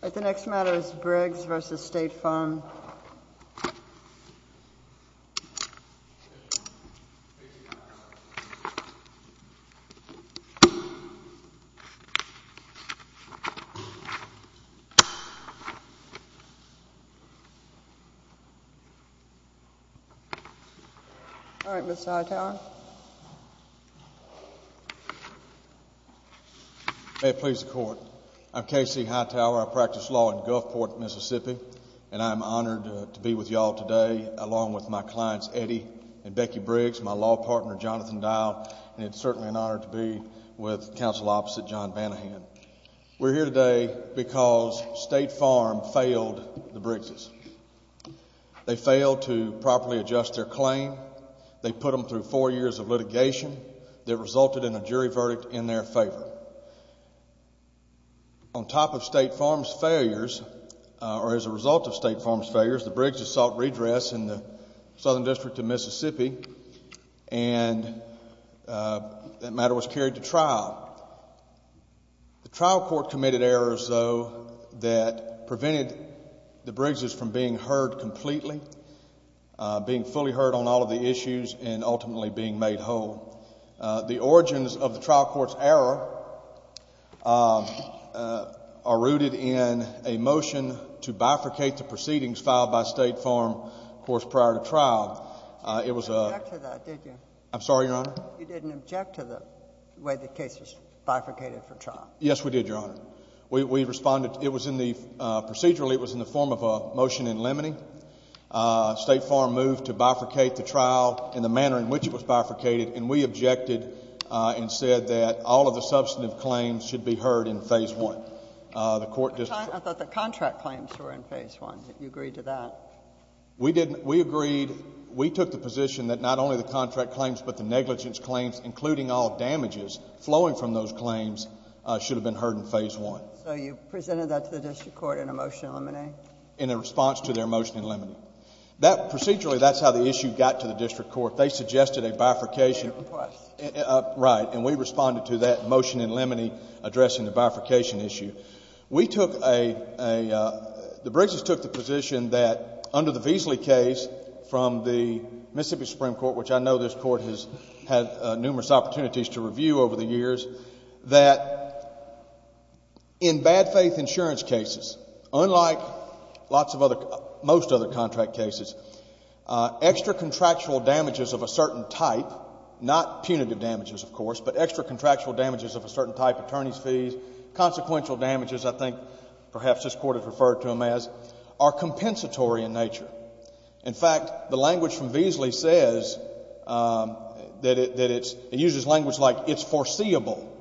The next matter is Briggs v. State Farm Fire & Casualty May it please the Court. I'm K.C. Hightower. I practice law in Gulfport, Mississippi. And I'm honored to be with you all today, along with my clients Eddie and Becky Briggs, my law partner Jonathan Dow, and it's certainly an honor to be with counsel opposite John Vanahan. We're here today because State Farm failed the Briggses. They failed to properly adjust their claim. They put them through four years of litigation that resulted in a jury verdict in their favor. On top of State Farm's failures, or as a result of State Farm's failures, the Briggses sought redress in the Southern District of Mississippi, and that matter was carried to trial. The trial court committed errors, though, that prevented the Briggses from being heard completely, being fully heard on all of the issues, and ultimately being made whole. The origins of the trial court's error are rooted in a motion to bifurcate the proceedings filed by State Farm, of course, prior to trial. You didn't object to that, did you? I'm sorry, Your Honor? You didn't object to the way the case was bifurcated for trial. Yes, we did, Your Honor. We responded. It was in the, procedurally, it was in the form of a motion in limine. State Farm moved to bifurcate the trial in the manner in which it was bifurcated, and we objected and said that all of the substantive claims should be heard in Phase 1. I thought the contract claims were in Phase 1. You agreed to that. We agreed. We took the position that not only the contract claims, but the negligence claims, including all damages flowing from those claims, should have been heard in Phase 1. So you presented that to the district court in a motion in limine? In a response to their motion in limine. Procedurally, that's how the issue got to the district court. They suggested a bifurcation. Your request. Right. And we responded to that motion in limine addressing the bifurcation issue. We took a, the Briggs' took the position that under the Veasley case from the Mississippi Supreme Court, which I know this court has had numerous opportunities to review over the years, that in bad faith insurance cases, unlike lots of other, most other contract cases, extra contractual damages of a certain type, not punitive damages, of course, but extra contractual damages of a certain type, attorney's fees, consequential damages, I think perhaps this court has referred to them as, are compensatory in nature. In fact, the language from Veasley says that it's, it uses language like it's foreseeable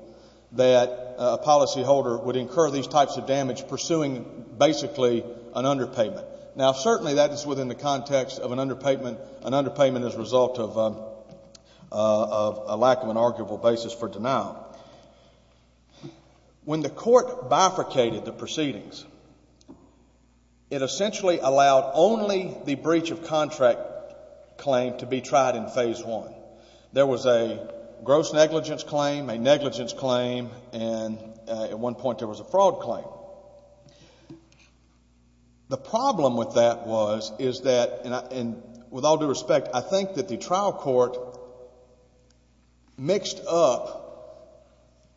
that a policyholder would incur these types of damage pursuing basically an underpayment. Now, certainly that is within the context of an underpayment, an underpayment as a result of a lack of an arguable basis for denial. When the court bifurcated the proceedings, it essentially allowed only the breach of contract claim to be tried in phase one. There was a gross negligence claim, a negligence claim, and at one point there was a fraud claim. The problem with that was, is that, and with all due respect, I think that the trial court mixed up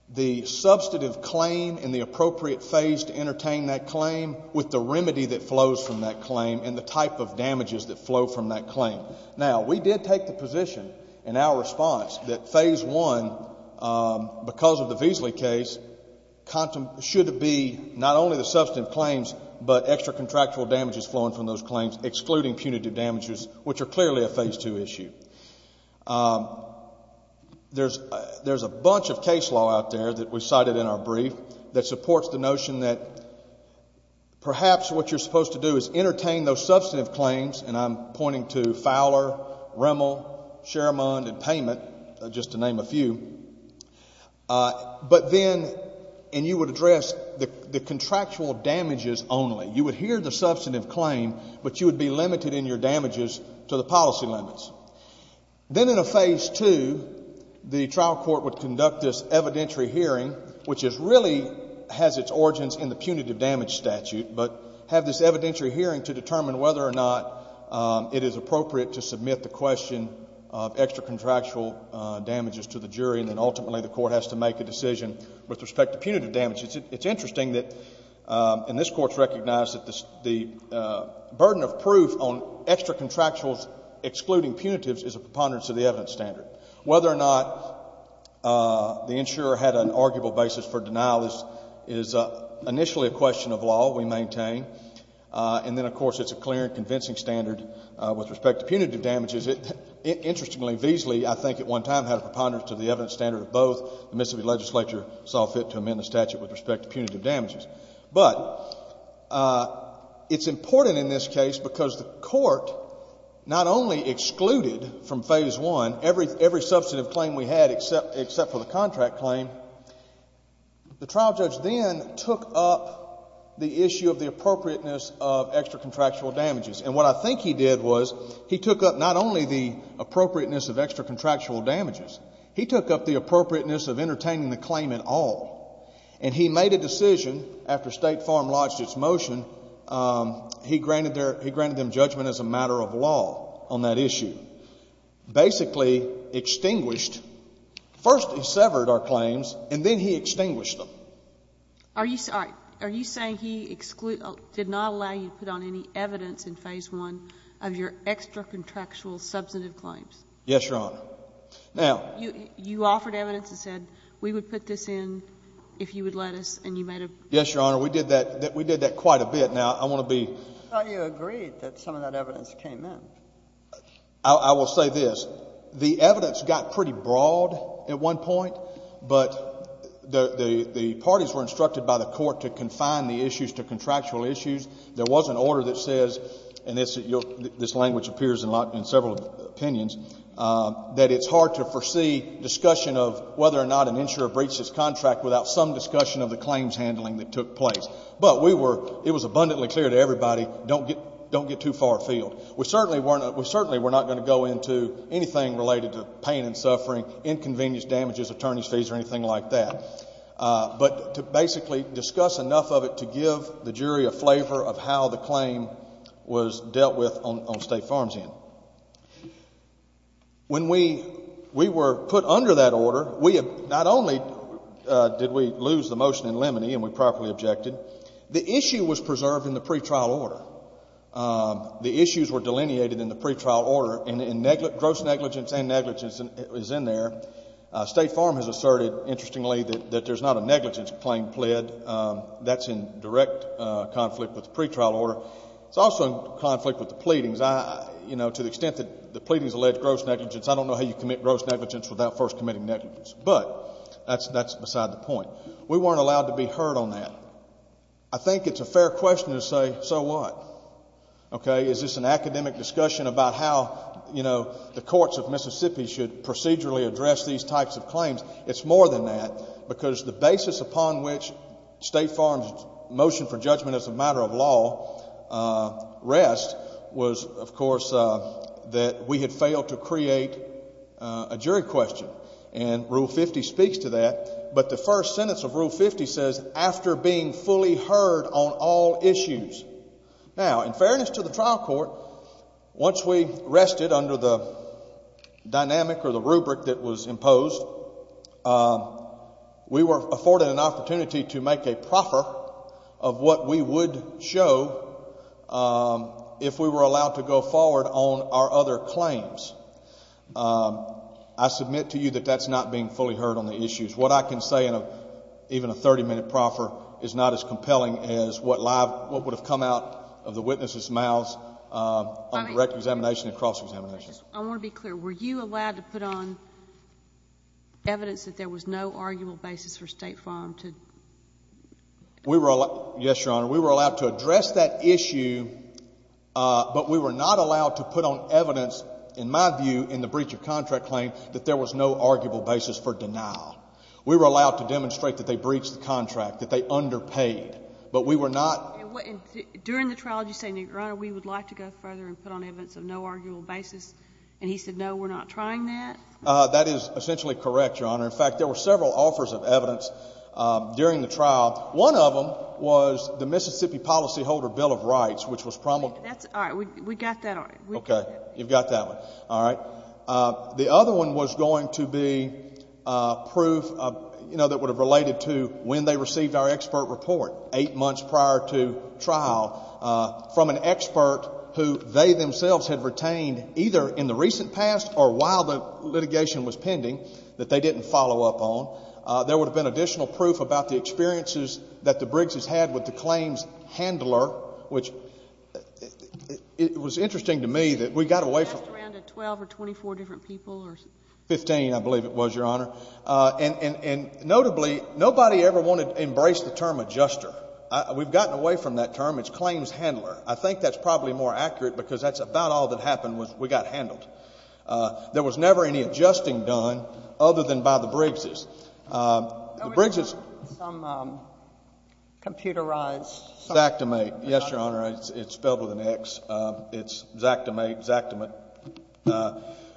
the substantive claim and the appropriate phase to entertain that claim with the remedy that flows from that claim and the type of damages that flow from that claim. Now, we did take the position in our response that phase one, because of the Veasley case, should be not only the substantive claims, but extra contractual damages flowing from those claims excluding punitive damages, which are clearly a phase two issue. There's a bunch of case law out there that we cited in our brief that supports the notion that perhaps what you're supposed to do is entertain those substantive claims, and I'm pointing to Fowler, Rimmel, Sherman, and Payment, just to name a few. But then, and you would address the contractual damages only. You would hear the substantive claim, but you would be limited in your damages to the policy limits. Then in a phase two, the trial court would conduct this evidentiary hearing, which really has its origins in the punitive damage statute, but have this evidentiary hearing to determine whether or not it is appropriate to submit the question of extra contractual damages to the jury, and then ultimately the court has to make a decision with respect to punitive damages. It's interesting that, and this Court's recognized that the burden of proof on extra contractuals excluding punitives is a preponderance of the evidence standard. Whether or not the insurer had an arguable basis for denial is initially a question of law we maintain, and then, of course, it's a clear and convincing standard with respect to punitive damages. Interestingly, Veasley, I think, at one time had a preponderance to the evidence standard of both. The Mississippi legislature saw fit to amend the statute with respect to punitive damages. But it's important in this case because the Court not only excluded from phase one every substantive claim we had, except for the contract claim, the trial judge then took up the issue of the appropriateness of extra contractual damages. And what I think he did was he took up not only the appropriateness of extra contractual damages, he took up the appropriateness of entertaining the claim in all. And he made a decision after State Farm lodged its motion. He granted them judgment as a matter of law on that issue. Basically extinguished. First he severed our claims, and then he extinguished them. Are you saying he did not allow you to put on any evidence in phase one of your extra contractual substantive claims? Yes, Your Honor. Now. You offered evidence and said we would put this in if you would let us, and you made a... Yes, Your Honor. We did that quite a bit. Now, I want to be... I thought you agreed that some of that evidence came in. I will say this. The evidence got pretty broad at one point, but the parties were instructed by the court to confine the issues to contractual issues. There was an order that says, and this language appears in several opinions, that it's hard to foresee discussion of whether or not an insurer breached his contract without some discussion of the claims handling that took place. But we were... It was abundantly clear to everybody, don't get too far afield. We certainly weren't... We certainly were not going to go into anything related to pain and suffering, inconvenience, damages, attorney's fees or anything like that, but to basically discuss enough of it to give the jury a flavor of how the claim was dealt with on State Farm's end. When we were put under that order, not only did we lose the motion in limine and we properly objected, the issue was preserved in the pretrial order. The issues were delineated in the pretrial order, and gross negligence and negligence is in there. State Farm has asserted, interestingly, that there's not a negligence claim pled. That's in direct conflict with the pretrial order. It's also in conflict with the pleadings. You know, to the extent that the pleadings allege gross negligence, I don't know how you commit gross negligence without first committing negligence. But that's beside the point. We weren't allowed to be heard on that. I think it's a fair question to say, so what? Okay, is this an academic discussion about how, you know, the courts of Mississippi should procedurally address these types of claims? It's more than that, because the basis upon which State Farm's motion for judgment as a matter of law rests was, of course, that we had failed to create a jury question. And Rule 50 speaks to that. But the first sentence of Rule 50 says, after being fully heard on all issues. Now, in fairness to the trial court, once we rested under the dynamic or the rubric that was imposed, we were afforded an opportunity to make a proffer of what we would show if we were allowed to go forward on our other claims. I submit to you that that's not being fully heard on the issues. What I can say in even a 30-minute proffer is not as compelling as what would have come out of the witnesses' mouths on direct examination and cross-examination. I want to be clear. Were you allowed to put on evidence that there was no arguable basis for State Farm to? Yes, Your Honor, we were allowed to address that issue, but we were not allowed to put on evidence, in my view, in the breach of contract claim, that there was no arguable basis for denial. We were allowed to demonstrate that they breached the contract, that they underpaid, but we were not. During the trial, did you say, Your Honor, we would like to go further and put on evidence of no arguable basis? And he said, no, we're not trying that? That is essentially correct, Your Honor. In fact, there were several offers of evidence during the trial. One of them was the Mississippi Policyholder Bill of Rights, which was promulgated. All right, we got that one. Okay, you've got that one. All right. The other one was going to be proof that would have related to when they received our expert report, eight months prior to trial, from an expert who they themselves had retained either in the recent past or while the litigation was pending that they didn't follow up on. There would have been additional proof about the experiences that the Briggs' had with the claims handler, which it was interesting to me that we got away from it. It was around 12 or 24 different people? Fifteen, I believe it was, Your Honor. And notably, nobody ever wanted to embrace the term adjuster. We've gotten away from that term. It's claims handler. I think that's probably more accurate because that's about all that happened was we got handled. There was never any adjusting done other than by the Briggs'. There was some computerized. Xactimate. Yes, Your Honor. It's spelled with an X. It's Xactimate, Xactimate.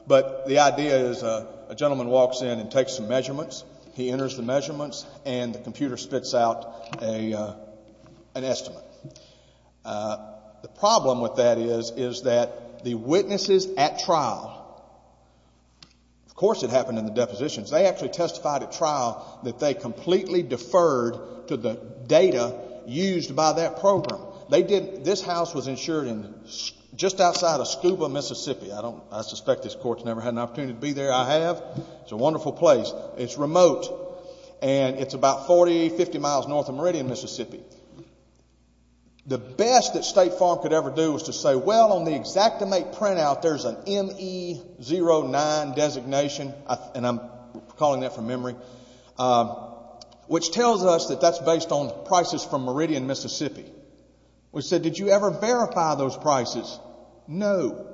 But the idea is a gentleman walks in and takes some measurements. He enters the measurements, and the computer spits out an estimate. The problem with that is that the witnesses at trial, of course it happened in the depositions. They actually testified at trial that they completely deferred to the data used by that program. This house was insured just outside of Scuba, Mississippi. I suspect this court's never had an opportunity to be there. I have. It's a wonderful place. It's remote, and it's about 40, 50 miles north of Meridian, Mississippi. The best that State Farm could ever do was to say, Well, on the Xactimate printout, there's an ME09 designation, and I'm calling that from memory, which tells us that that's based on prices from Meridian, Mississippi. We said, Did you ever verify those prices? No.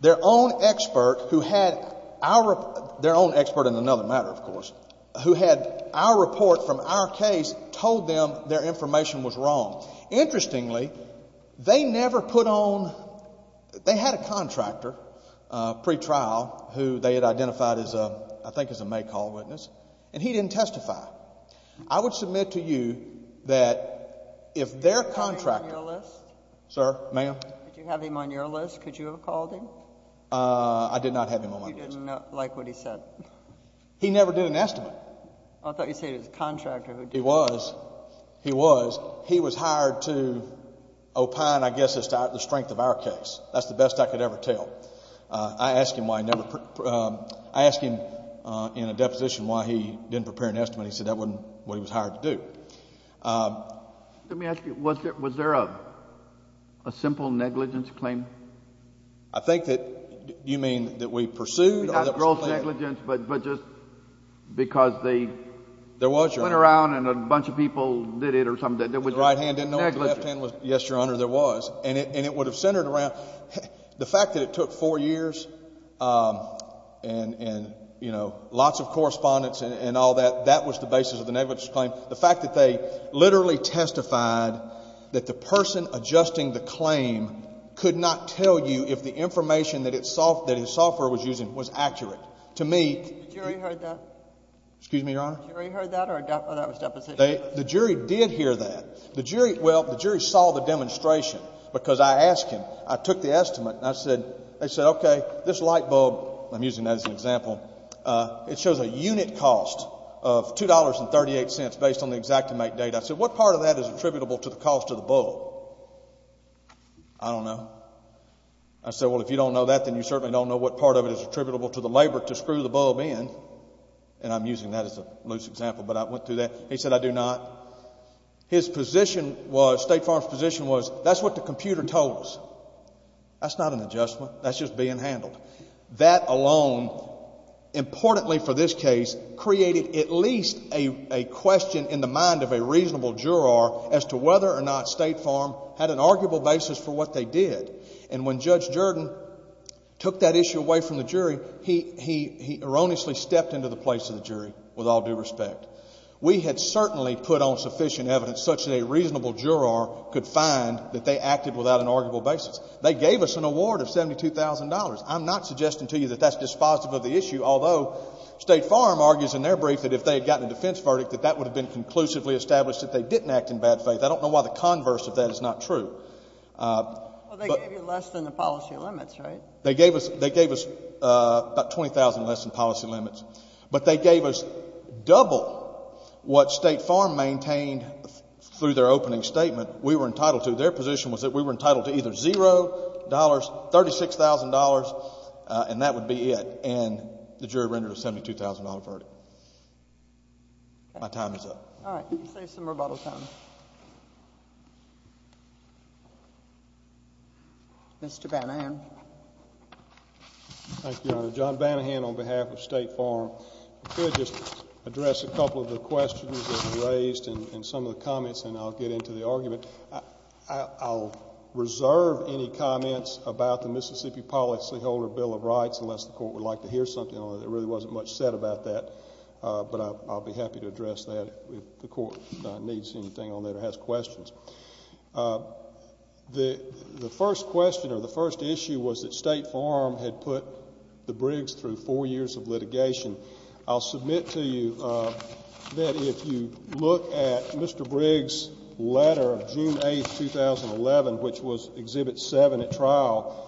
Their own expert who had our, their own expert in another matter, of course, who had our report from our case told them their information was wrong. Interestingly, they never put on, they had a contractor pre-trial who they had identified, I think, as a May call witness, and he didn't testify. I would submit to you that if their contractor. Did you have him on your list? Sir, ma'am? Did you have him on your list? Could you have called him? I did not have him on my list. You didn't like what he said. He never did an estimate. I thought you said he was a contractor. He was. He was hired to opine, I guess, as to the strength of our case. That's the best I could ever tell. I asked him why he never, I asked him in a deposition why he didn't prepare an estimate. He said that wasn't what he was hired to do. Let me ask you, was there a simple negligence claim? I think that you mean that we pursued? Not gross negligence, but just because they went around and a bunch of people did it or something. The right hand didn't know what the left hand was. Yes, Your Honor, there was. And it would have centered around the fact that it took four years and lots of correspondence and all that, that was the basis of the negligence claim. The fact that they literally testified that the person adjusting the claim could not tell you if the information that his software was using was accurate. The jury heard that? Excuse me, Your Honor? The jury heard that or that was deposition? The jury did hear that. Well, the jury saw the demonstration because I asked him, I took the estimate, and I said, they said, okay, this light bulb, I'm using that as an example, it shows a unit cost of $2.38 based on the exactimate date. I said, what part of that is attributable to the cost of the bulb? I don't know. I said, well, if you don't know that, then you certainly don't know what part of it is attributable to the labor to screw the bulb in. And I'm using that as a loose example, but I went through that. He said, I do not. His position was, State Farm's position was, that's what the computer told us. That's not an adjustment. That's just being handled. That alone, importantly for this case, created at least a question in the mind of a reasonable juror as to whether or not State Farm had an arguable basis for what they did. And when Judge Jordan took that issue away from the jury, he erroneously stepped into the place of the jury, with all due respect. We had certainly put on sufficient evidence such that a reasonable juror could find that they acted without an arguable basis. They gave us an award of $72,000. I'm not suggesting to you that that's dispositive of the issue, although State Farm argues in their brief that if they had gotten a defense verdict, that that would have been conclusively established that they didn't act in bad faith. I don't know why the converse of that is not true. Well, they gave you less than the policy limits, right? They gave us about $20,000 less than policy limits. But they gave us double what State Farm maintained through their opening statement. We were entitled to, their position was that we were entitled to either $0, $36,000, and that would be it. And the jury rendered a $72,000 verdict. My time is up. All right. Let's save some rebuttal time. Mr. Banahan. Thank you, Your Honor. John Banahan on behalf of State Farm. If I could just address a couple of the questions that were raised and some of the comments, and I'll get into the argument. I'll reserve any comments about the Mississippi policyholder bill of rights, unless the court would like to hear something on it. There really wasn't much said about that. But I'll be happy to address that if the court needs anything on that or has questions. The first question or the first issue was that State Farm had put the Briggs through four years of litigation. I'll submit to you that if you look at Mr. Briggs' letter, June 8, 2011, which was Exhibit 7 at trial,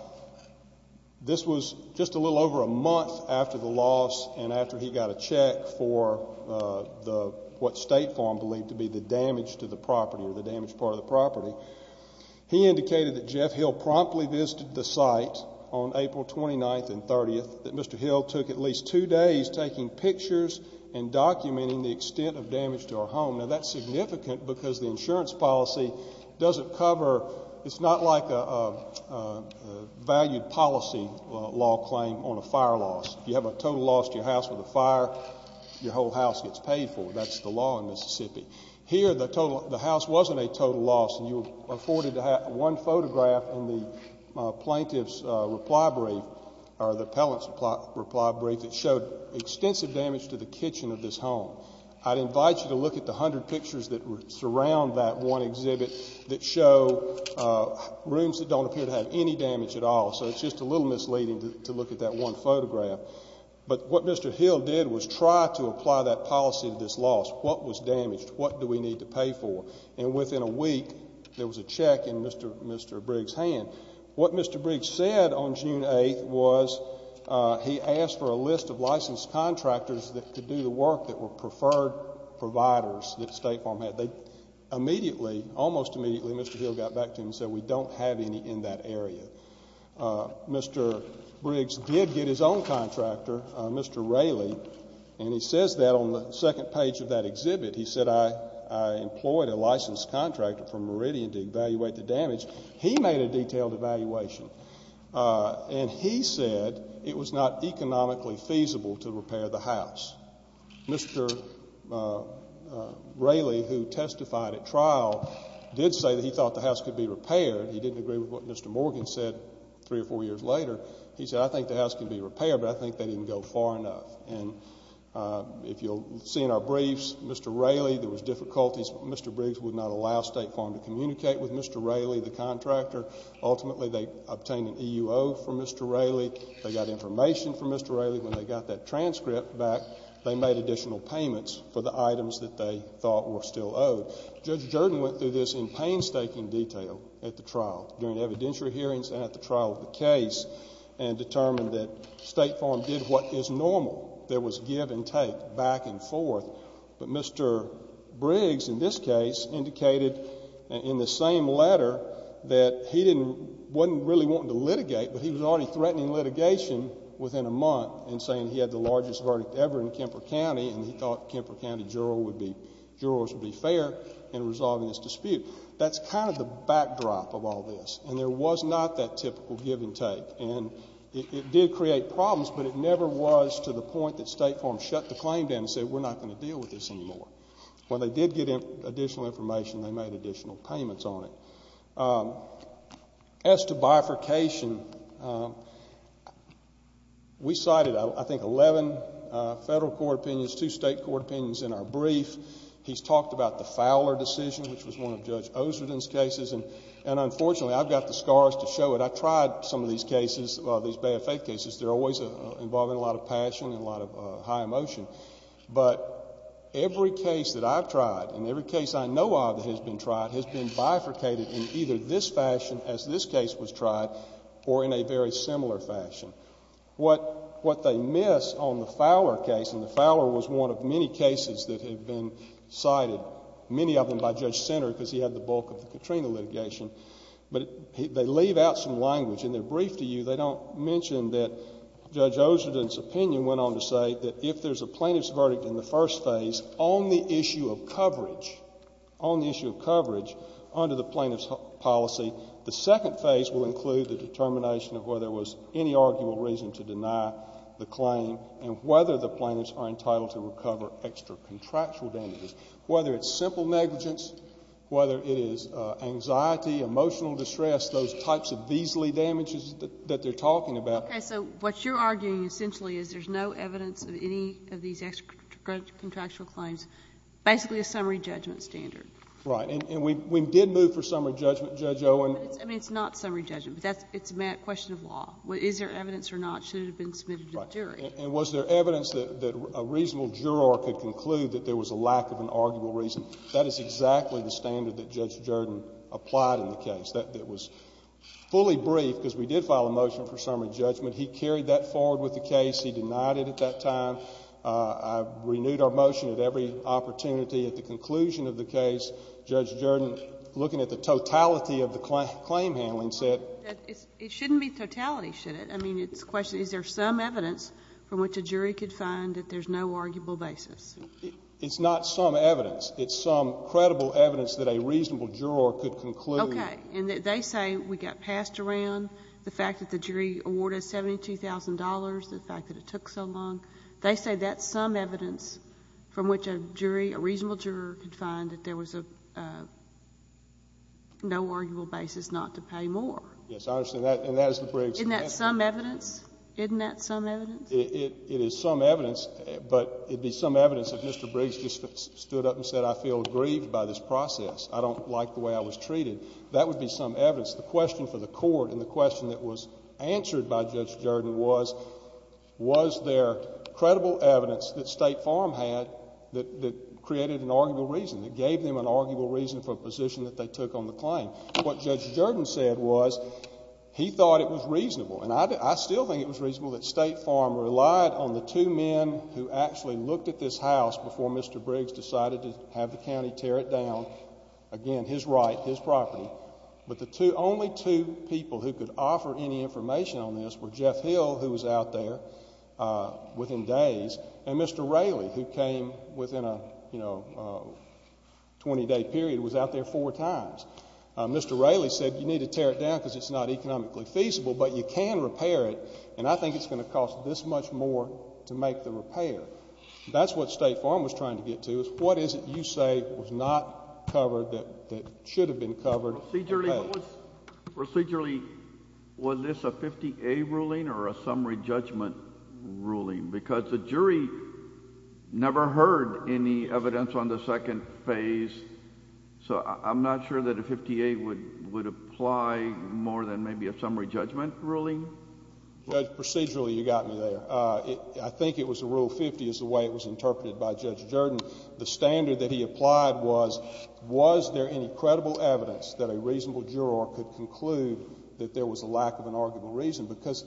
this was just a little over a month after the loss and after he got a check for what State Farm believed to be the damage to the property or the damaged part of the property. He indicated that Jeff Hill promptly visited the site on April 29 and 30, that Mr. Hill took at least two days taking pictures and documenting the extent of damage to our home. Now, that's significant because the insurance policy doesn't cover, it's not like a valued policy law claim on a fire loss. If you have a total loss to your house with a fire, your whole house gets paid for. That's the law in Mississippi. Here, the house wasn't a total loss, and you were afforded to have one photograph in the plaintiff's reply brief or the appellant's reply brief that showed extensive damage to the kitchen of this home. I'd invite you to look at the hundred pictures that surround that one exhibit that show rooms that don't appear to have any damage at all. So it's just a little misleading to look at that one photograph. But what Mr. Hill did was try to apply that policy to this loss. What was damaged? What do we need to pay for? And within a week, there was a check in Mr. Briggs' hand. What Mr. Briggs said on June 8 was he asked for a list of licensed contractors that could do the work that were preferred providers that State Farm had. They immediately, almost immediately, Mr. Hill got back to him and said, we don't have any in that area. Mr. Briggs did get his own contractor, Mr. Raley, and he says that on the second page of that exhibit. He said, I employed a licensed contractor from Meridian to evaluate the damage. He made a detailed evaluation, and he said it was not economically feasible to repair the house. Mr. Raley, who testified at trial, did say that he thought the house could be repaired. He didn't agree with what Mr. Morgan said three or four years later. He said, I think the house can be repaired, but I think they didn't go far enough. And if you'll see in our briefs, Mr. Raley, there was difficulties. Mr. Briggs would not allow State Farm to communicate with Mr. Raley, the contractor. Ultimately, they obtained an EUO from Mr. Raley. They got information from Mr. Raley. When they got that transcript back, they made additional payments for the items that they thought were still owed. Judge Jordan went through this in painstaking detail at the trial, during evidentiary hearings and at the trial of the case, and determined that State Farm did what is normal. There was give and take, back and forth. But Mr. Briggs, in this case, indicated in the same letter that he wasn't really wanting to litigate, but he was already threatening litigation within a month and saying he had the largest verdict ever in Kemper County and he thought Kemper County jurors would be fair in resolving this dispute. That's kind of the backdrop of all this, and there was not that typical give and take. It did create problems, but it never was to the point that State Farm shut the claim down and said we're not going to deal with this anymore. When they did get additional information, they made additional payments on it. As to bifurcation, we cited, I think, 11 federal court opinions, two state court opinions in our brief. He's talked about the Fowler decision, which was one of Judge Osreden's cases, and unfortunately I've got the scars to show it. I've tried some of these cases, these Bay of Faith cases. They're always involving a lot of passion and a lot of high emotion, but every case that I've tried and every case I know of that has been tried has been bifurcated in either this fashion as this case was tried or in a very similar fashion. What they miss on the Fowler case, and the Fowler was one of many cases that had been cited, many of them by Judge Sinner because he had the bulk of the Katrina litigation, but they leave out some language in their brief to you. They don't mention that Judge Osreden's opinion went on to say that if there's a plaintiff's verdict in the first phase on the issue of coverage, on the issue of coverage under the plaintiff's policy, the second phase will include the determination of whether there was any arguable reason to deny the claim and whether the plaintiffs are entitled to recover extra contractual damages, whether it's simple negligence, whether it is anxiety, emotional distress, those types of measly damages that they're talking about. Okay. So what you're arguing essentially is there's no evidence of any of these extra contractual claims, basically a summary judgment standard. Right. And we did move for summary judgment, Judge Owen. I mean, it's not summary judgment. It's a question of law. Is there evidence or not? Should it have been submitted to the jury? Right. And was there evidence that a reasonable juror could conclude that there was a lack of an arguable reason? That is exactly the standard that Judge Jordan applied in the case. It was fully briefed because we did file a motion for summary judgment. He carried that forward with the case. He denied it at that time. I renewed our motion at every opportunity. At the conclusion of the case, Judge Jordan, looking at the totality of the claim handling, said — It shouldn't be totality, should it? I mean, it's a question of is there some evidence from which a jury could find that there's no arguable basis? It's not some evidence. It's some credible evidence that a reasonable juror could conclude. Okay. And they say we got passed around the fact that the jury awarded $72,000, the fact that it took so long. They say that's some evidence from which a jury, a reasonable juror, could find that there was no arguable basis not to pay more. Yes, I understand that, and that is the Briggs. Isn't that some evidence? Isn't that some evidence? It is some evidence, but it would be some evidence if Mr. Briggs just stood up and said, I feel grieved by this process. I don't like the way I was treated. That would be some evidence. The question for the Court and the question that was answered by Judge Jordan was, was there credible evidence that State Farm had that created an arguable reason, that gave them an arguable reason for a position that they took on the claim? What Judge Jordan said was he thought it was reasonable, and I still think it was reasonable that State Farm relied on the two men who actually looked at this house before Mr. Briggs decided to have the county tear it down, again, his right, his property. But the only two people who could offer any information on this were Jeff Hill, who was out there within days, and Mr. Raley, who came within a 20-day period, was out there four times. Mr. Raley said you need to tear it down because it's not economically feasible, but you can repair it, and I think it's going to cost this much more to make the repair. That's what State Farm was trying to get to, is what is it you say was not covered that should have been covered? Procedurally, was this a 50-A ruling or a summary judgment ruling? Because the jury never heard any evidence on the second phase, so I'm not sure that a 50-A would apply more than maybe a summary judgment ruling. Judge, procedurally you got me there. I think it was a Rule 50 is the way it was interpreted by Judge Jordan. The standard that he applied was, was there any credible evidence that a reasonable juror could conclude that there was a lack of an arguable reason? Because,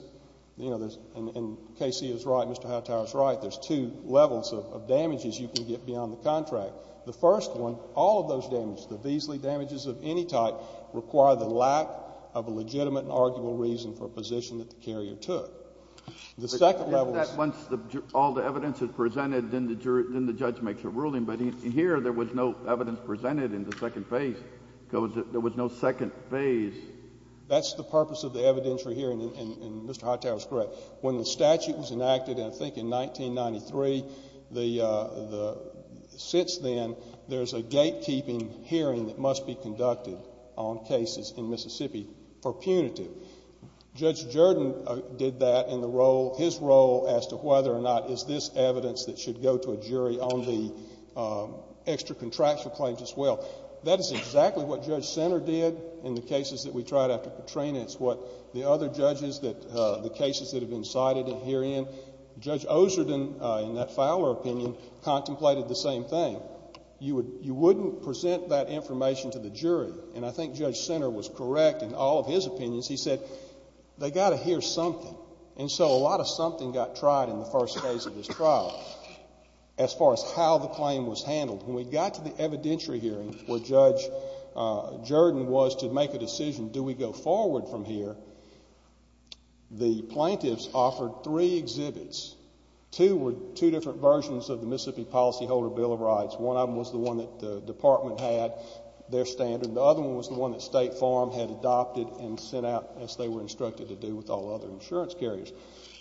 you know, and K.C. is right, Mr. Hightower is right, there's two levels of damages you can get beyond the contract. The first one, all of those damages, the Beasley damages of any type, require the lack of a legitimate and arguable reason for a position that the carrier took. The second level is— If that's once all the evidence is presented, then the judge makes a ruling, but in here there was no evidence presented in the second phase because there was no second phase. That's the purpose of the evidentiary hearing, and Mr. Hightower is correct. When the statute was enacted, I think in 1993, since then, there's a gatekeeping hearing that must be conducted on cases in Mississippi for punitive. Judge Jordan did that in his role as to whether or not is this evidence that should go to a jury on the extra-contractual claims as well. That is exactly what Judge Sinner did in the cases that we tried after Katrina. And it's what the other judges, the cases that have been cited herein, Judge Oserden, in that Fowler opinion, contemplated the same thing. You wouldn't present that information to the jury, and I think Judge Sinner was correct in all of his opinions. He said, they've got to hear something. And so a lot of something got tried in the first phase of this trial as far as how the claim was handled. When we got to the evidentiary hearing where Judge Jordan was to make a decision, do we go forward from here, the plaintiffs offered three exhibits. Two were two different versions of the Mississippi Policyholder Bill of Rights. One of them was the one that the department had, their standard. The other one was the one that State Farm had adopted and sent out as they were instructed to do with all other insurance carriers.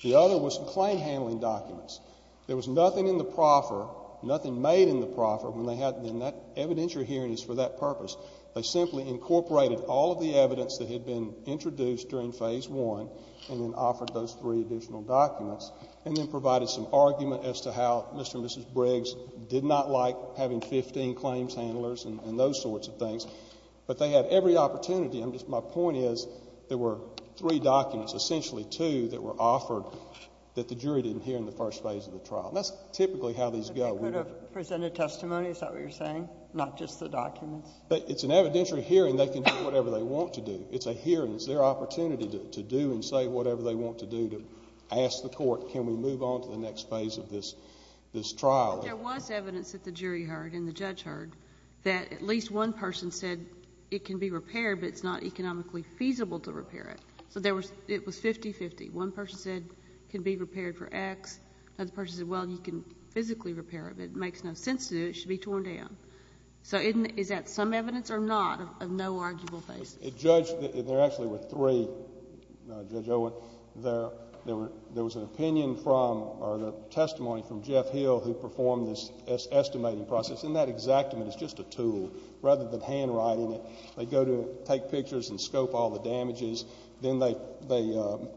The other was the claim handling documents. There was nothing in the proffer, nothing made in the proffer when they had in that evidentiary hearings for that purpose. They simply incorporated all of the evidence that had been introduced during phase one and then offered those three additional documents and then provided some argument as to how Mr. and Mrs. Briggs did not like having 15 claims handlers and those sorts of things. But they had every opportunity. My point is there were three documents, essentially two, that were offered that the jury didn't hear in the first phase of the trial. And that's typically how these go. They could have presented testimony. Is that what you're saying? Not just the documents? It's an evidentiary hearing. They can do whatever they want to do. It's a hearing. It's their opportunity to do and say whatever they want to do to ask the court, can we move on to the next phase of this trial? There was evidence that the jury heard and the judge heard that at least one person said it can be repaired but it's not economically feasible to repair it. So it was 50-50. One person said it can be repaired for X. Another person said, well, you can physically repair it, but it makes no sense to do it. It should be torn down. So is that some evidence or not of no arguable basis? There actually were three, Judge Owen. There was an opinion from or testimony from Jeff Hill who performed this estimating process, and that exactment is just a tool rather than handwriting it. They go to take pictures and scope all the damages. Then they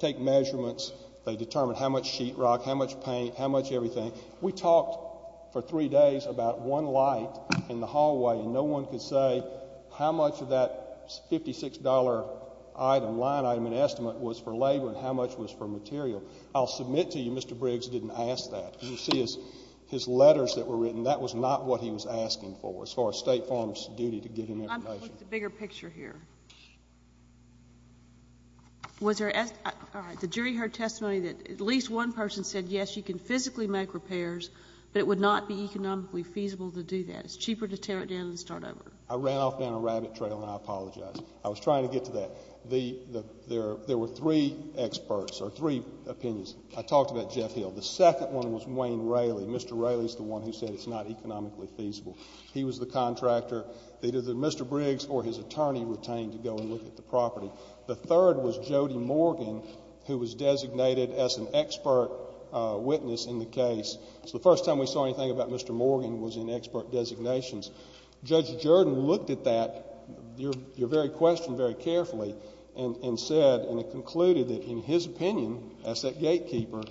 take measurements. They determine how much sheetrock, how much paint, how much everything. We talked for three days about one light in the hallway, and no one could say how much of that $56 item, line item, and estimate was for labor and how much was for material. I'll submit to you Mr. Briggs didn't ask that. You see his letters that were written, that was not what he was asking for as far as State Farm's duty to get information. I'm going to put the bigger picture here. The jury heard testimony that at least one person said, yes, you can physically make repairs, but it would not be economically feasible to do that. It's cheaper to tear it down and start over. I ran off down a rabbit trail, and I apologize. I was trying to get to that. There were three experts or three opinions. I talked about Jeff Hill. The second one was Wayne Raley. Mr. Raley is the one who said it's not economically feasible. He was the contractor. Either Mr. Briggs or his attorney retained to go and look at the property. The third was Jody Morgan, who was designated as an expert witness in the case. It's the first time we saw anything about Mr. Morgan was in expert designations. Judge Jordan looked at that, your very question, very carefully and said and concluded that in his opinion as that gatekeeper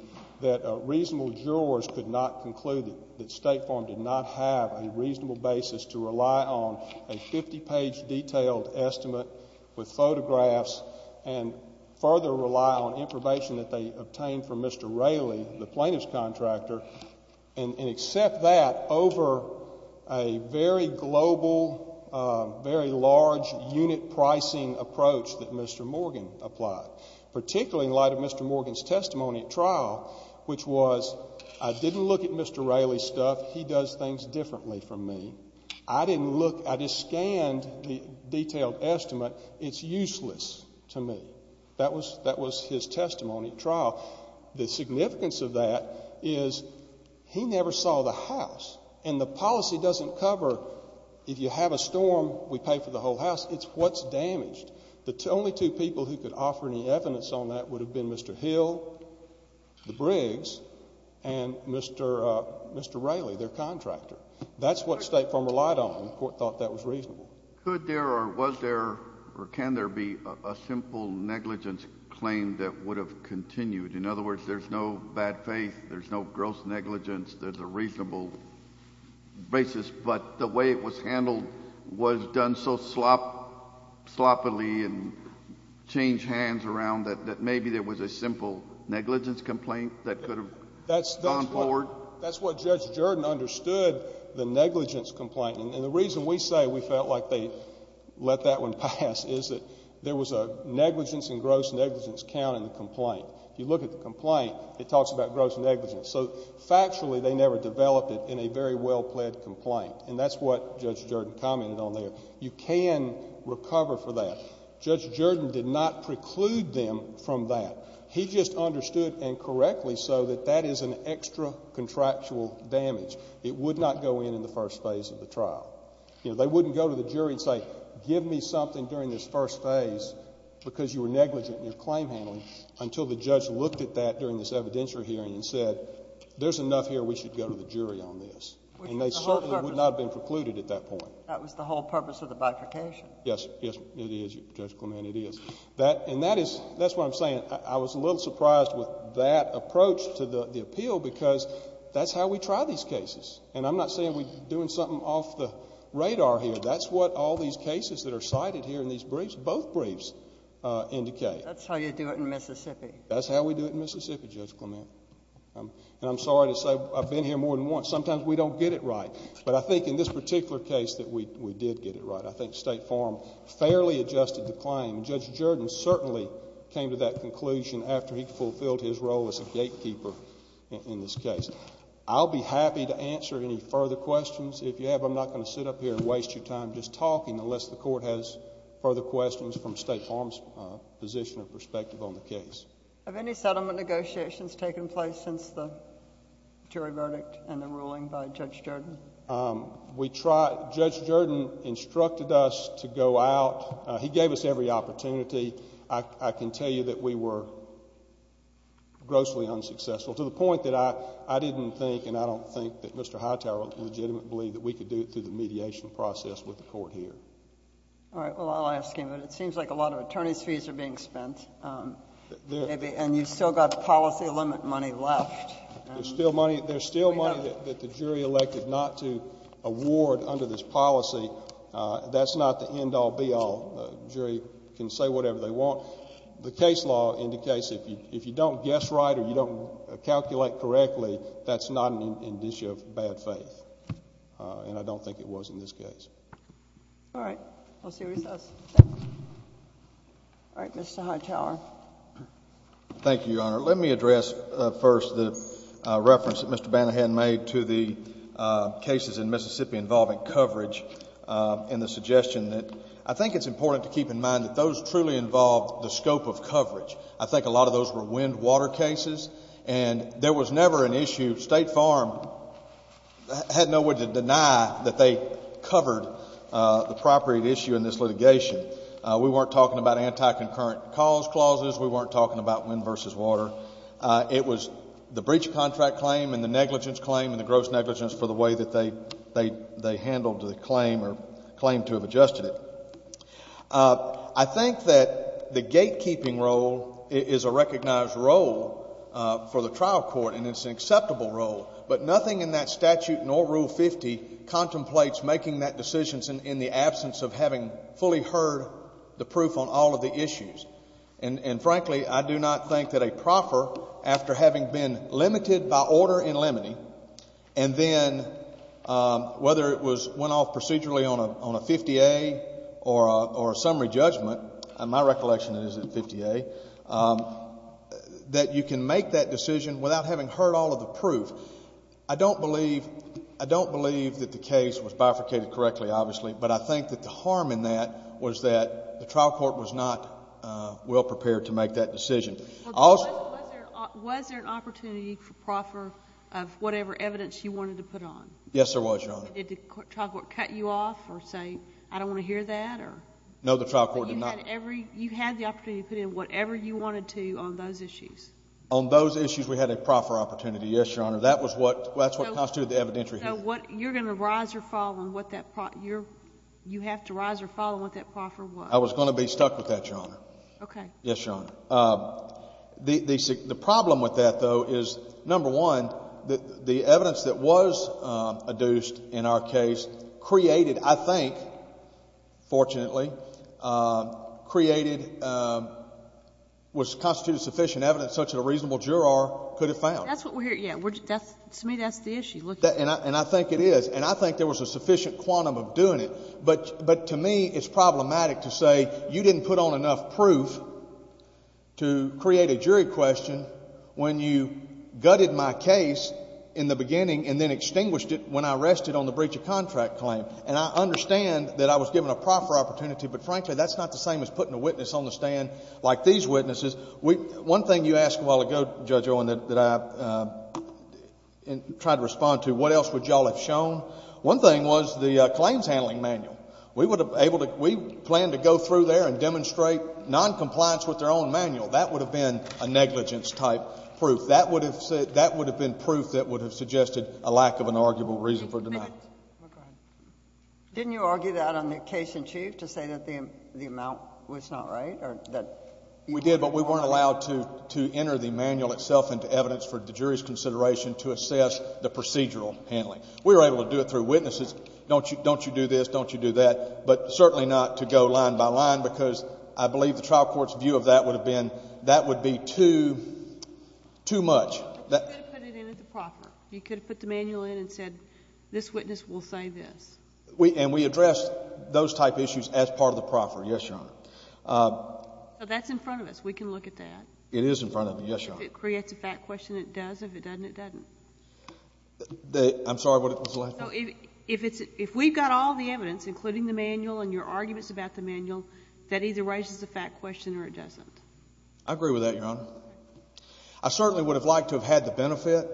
that reasonable jurors could not conclude that State Farm did not have a reasonable basis to rely on a 50-page detailed estimate with photographs and further rely on information that they obtained from Mr. Raley, the plaintiff's contractor, and accept that over a very global, very large unit pricing approach that Mr. Morgan applied, particularly in light of Mr. Morgan's testimony at trial, which was I didn't look at Mr. Raley's stuff. He does things differently from me. I didn't look. I just scanned the detailed estimate. It's useless to me. That was his testimony at trial. The significance of that is he never saw the house, and the policy doesn't cover if you have a storm, we pay for the whole house. It's what's damaged. The only two people who could offer any evidence on that would have been Mr. Hill, the Briggs, and Mr. Raley, their contractor. That's what State Farm relied on. The Court thought that was reasonable. Could there or was there or can there be a simple negligence claim that would have continued? In other words, there's no bad faith, there's no gross negligence, there's a reasonable basis, but the way it was handled was done so sloppily and changed hands around that maybe there was a simple negligence complaint that could have gone forward? That's what Judge Jordan understood, the negligence complaint. And the reason we say we felt like they let that one pass is that there was a negligence and gross negligence count in the complaint. If you look at the complaint, it talks about gross negligence. So factually, they never developed it in a very well-played complaint, and that's what Judge Jordan commented on there. You can recover for that. Judge Jordan did not preclude them from that. He just understood incorrectly so that that is an extra contractual damage. It would not go in in the first phase of the trial. They wouldn't go to the jury and say, give me something during this first phase because you were negligent in your claim handling, until the judge looked at that during this evidentiary hearing and said, there's enough here, we should go to the jury on this. And they certainly would not have been precluded at that point. That was the whole purpose of the bifurcation. Yes, it is, Judge Clement, it is. And that is what I'm saying. I was a little surprised with that approach to the appeal because that's how we try these cases. And I'm not saying we're doing something off the radar here. That's what all these cases that are cited here in these briefs, both briefs, indicate. That's how you do it in Mississippi. That's how we do it in Mississippi, Judge Clement. And I'm sorry to say I've been here more than once. Sometimes we don't get it right. But I think in this particular case that we did get it right. I think State Farm fairly adjusted the claim. Judge Jordan certainly came to that conclusion after he fulfilled his role as a gatekeeper in this case. I'll be happy to answer any further questions. If you have, I'm not going to sit up here and waste your time just talking, unless the Court has further questions from State Farm's position or perspective on the case. Have any settlement negotiations taken place since the jury verdict and the ruling by Judge Jordan? We tried. Judge Jordan instructed us to go out. He gave us every opportunity. I can tell you that we were grossly unsuccessful to the point that I didn't think and I don't think that Mr. Hightower legitimately believed that we could do it through the mediation process with the Court here. All right. Well, I'll ask him, but it seems like a lot of attorney's fees are being spent. And you've still got policy limit money left. There's still money that the jury elected not to award under this policy. That's not the end-all, be-all. The jury can say whatever they want. The case law indicates that if you don't guess right or you don't calculate correctly, that's not an issue of bad faith. And I don't think it was in this case. All right. We'll see what he says. All right. Mr. Hightower. Thank you, Your Honor. Let me address first the reference that Mr. Banahan made to the cases in Mississippi involving coverage and the suggestion that I think it's important to keep in mind that those truly involved the scope of coverage. I think a lot of those were wind-water cases, and there was never an issue. State Farm had no way to deny that they covered the property at issue in this litigation. We weren't talking about anti-concurrent cause clauses. We weren't talking about wind versus water. It was the breach of contract claim and the negligence claim and the gross negligence for the way that they handled the claim or claimed to have adjusted it. I think that the gatekeeping role is a recognized role for the trial court, and it's an acceptable role, but nothing in that statute nor Rule 50 contemplates making that decision in the absence of having fully heard the proof on all of the issues. And, frankly, I do not think that a proffer, after having been limited by order in limine, and then whether it went off procedurally on a 50A or a summary judgment, and my recollection is it 50A, that you can make that decision without having heard all of the proof. I don't believe that the case was bifurcated correctly, obviously, but I think that the harm in that was that the trial court was not well prepared to make that decision. Was there an opportunity for proffer of whatever evidence you wanted to put on? Yes, there was, Your Honor. Did the trial court cut you off or say, I don't want to hear that? No, the trial court did not. But you had the opportunity to put in whatever you wanted to on those issues? On those issues, we had a proffer opportunity, yes, Your Honor. That's what constituted the evidentiary hearing. So you're going to rise or fall on what that – you have to rise or fall on what that proffer was? I was going to be stuck with that, Your Honor. Okay. Yes, Your Honor. The problem with that, though, is, number one, the evidence that was adduced in our case created, I think, fortunately, created – was constituted sufficient evidence such that a reasonable juror could have found it. That's what we're – yeah. To me, that's the issue. And I think it is. And I think there was a sufficient quantum of doing it. But to me, it's problematic to say you didn't put on enough proof to create a jury question when you gutted my case in the beginning and then extinguished it when I rested on the breach of contract claim. And I understand that I was given a proffer opportunity, but frankly that's not the same as putting a witness on the stand like these witnesses. One thing you asked a while ago, Judge Owen, that I tried to respond to, what else would you all have shown? One thing was the claims handling manual. We would have been able to – we planned to go through there and demonstrate noncompliance with their own manual. That would have been a negligence-type proof. That would have been proof that would have suggested a lack of an arguable reason for denial. Didn't you argue that on the case in chief to say that the amount was not right? We did, but we weren't allowed to enter the manual itself into evidence for the jury's consideration to assess the procedural handling. We were able to do it through witnesses. Don't you do this, don't you do that, but certainly not to go line by line because I believe the trial court's view of that would have been that would be too much. You could have put it in at the proffer. You could have put the manual in and said this witness will say this. And we addressed those type issues as part of the proffer, yes, Your Honor. That's in front of us. We can look at that. It is in front of us, yes, Your Honor. If it creates a fact question, it does. If it doesn't, it doesn't. I'm sorry, what was the last part? If we've got all the evidence, including the manual and your arguments about the manual, that either raises a fact question or it doesn't. I agree with that, Your Honor. I certainly would have liked to have had the benefit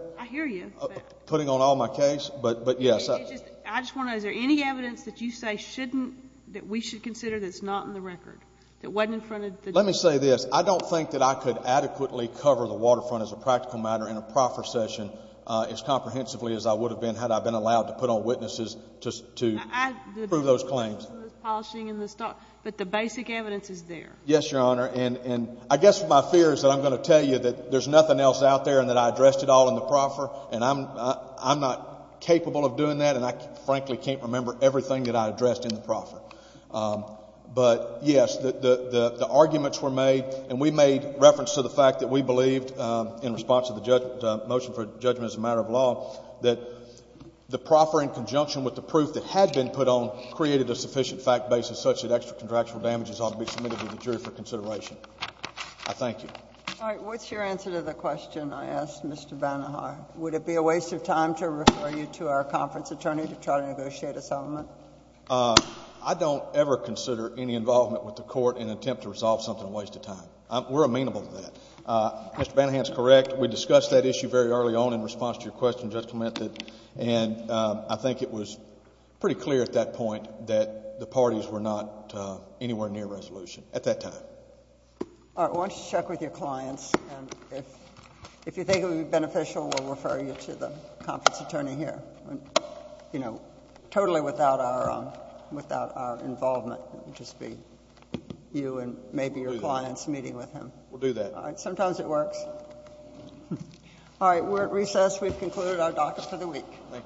of putting on all my case, but yes. I just want to know, is there any evidence that you say shouldn't, that we should consider that's not in the record, that wasn't in front of the judge? Let me say this. I don't think that I could adequately cover the waterfront as a practical matter in a proffer session as comprehensively as I would have been had I been allowed to put on witnesses to prove those claims. But the basic evidence is there. Yes, Your Honor. And I guess my fear is that I'm going to tell you that there's nothing else out there and that I addressed it all in the proffer, and I'm not capable of doing that, and I frankly can't remember everything that I addressed in the proffer. But, yes, the arguments were made, and we made reference to the fact that we believed, in response to the motion for judgment as a matter of law, that the proffer in conjunction with the proof that had been put on created a sufficient fact basis such that extra contractual damages ought to be submitted to the jury for consideration. I thank you. All right. What's your answer to the question I asked Mr. Banahar? Would it be a waste of time to refer you to our conference attorney to try to negotiate a settlement? I don't ever consider any involvement with the court in an attempt to resolve something a waste of time. We're amenable to that. Mr. Banahar is correct. We discussed that issue very early on in response to your question, Judge Clement, and I think it was pretty clear at that point that the parties were not anywhere near resolution at that time. All right. Why don't you check with your clients, and if you think it would be beneficial, we'll refer you to the conference attorney here, you know, totally without our involvement. It would just be you and maybe your clients meeting with him. We'll do that. All right. Sometimes it works. All right. We've concluded our docket for the week. Thank you.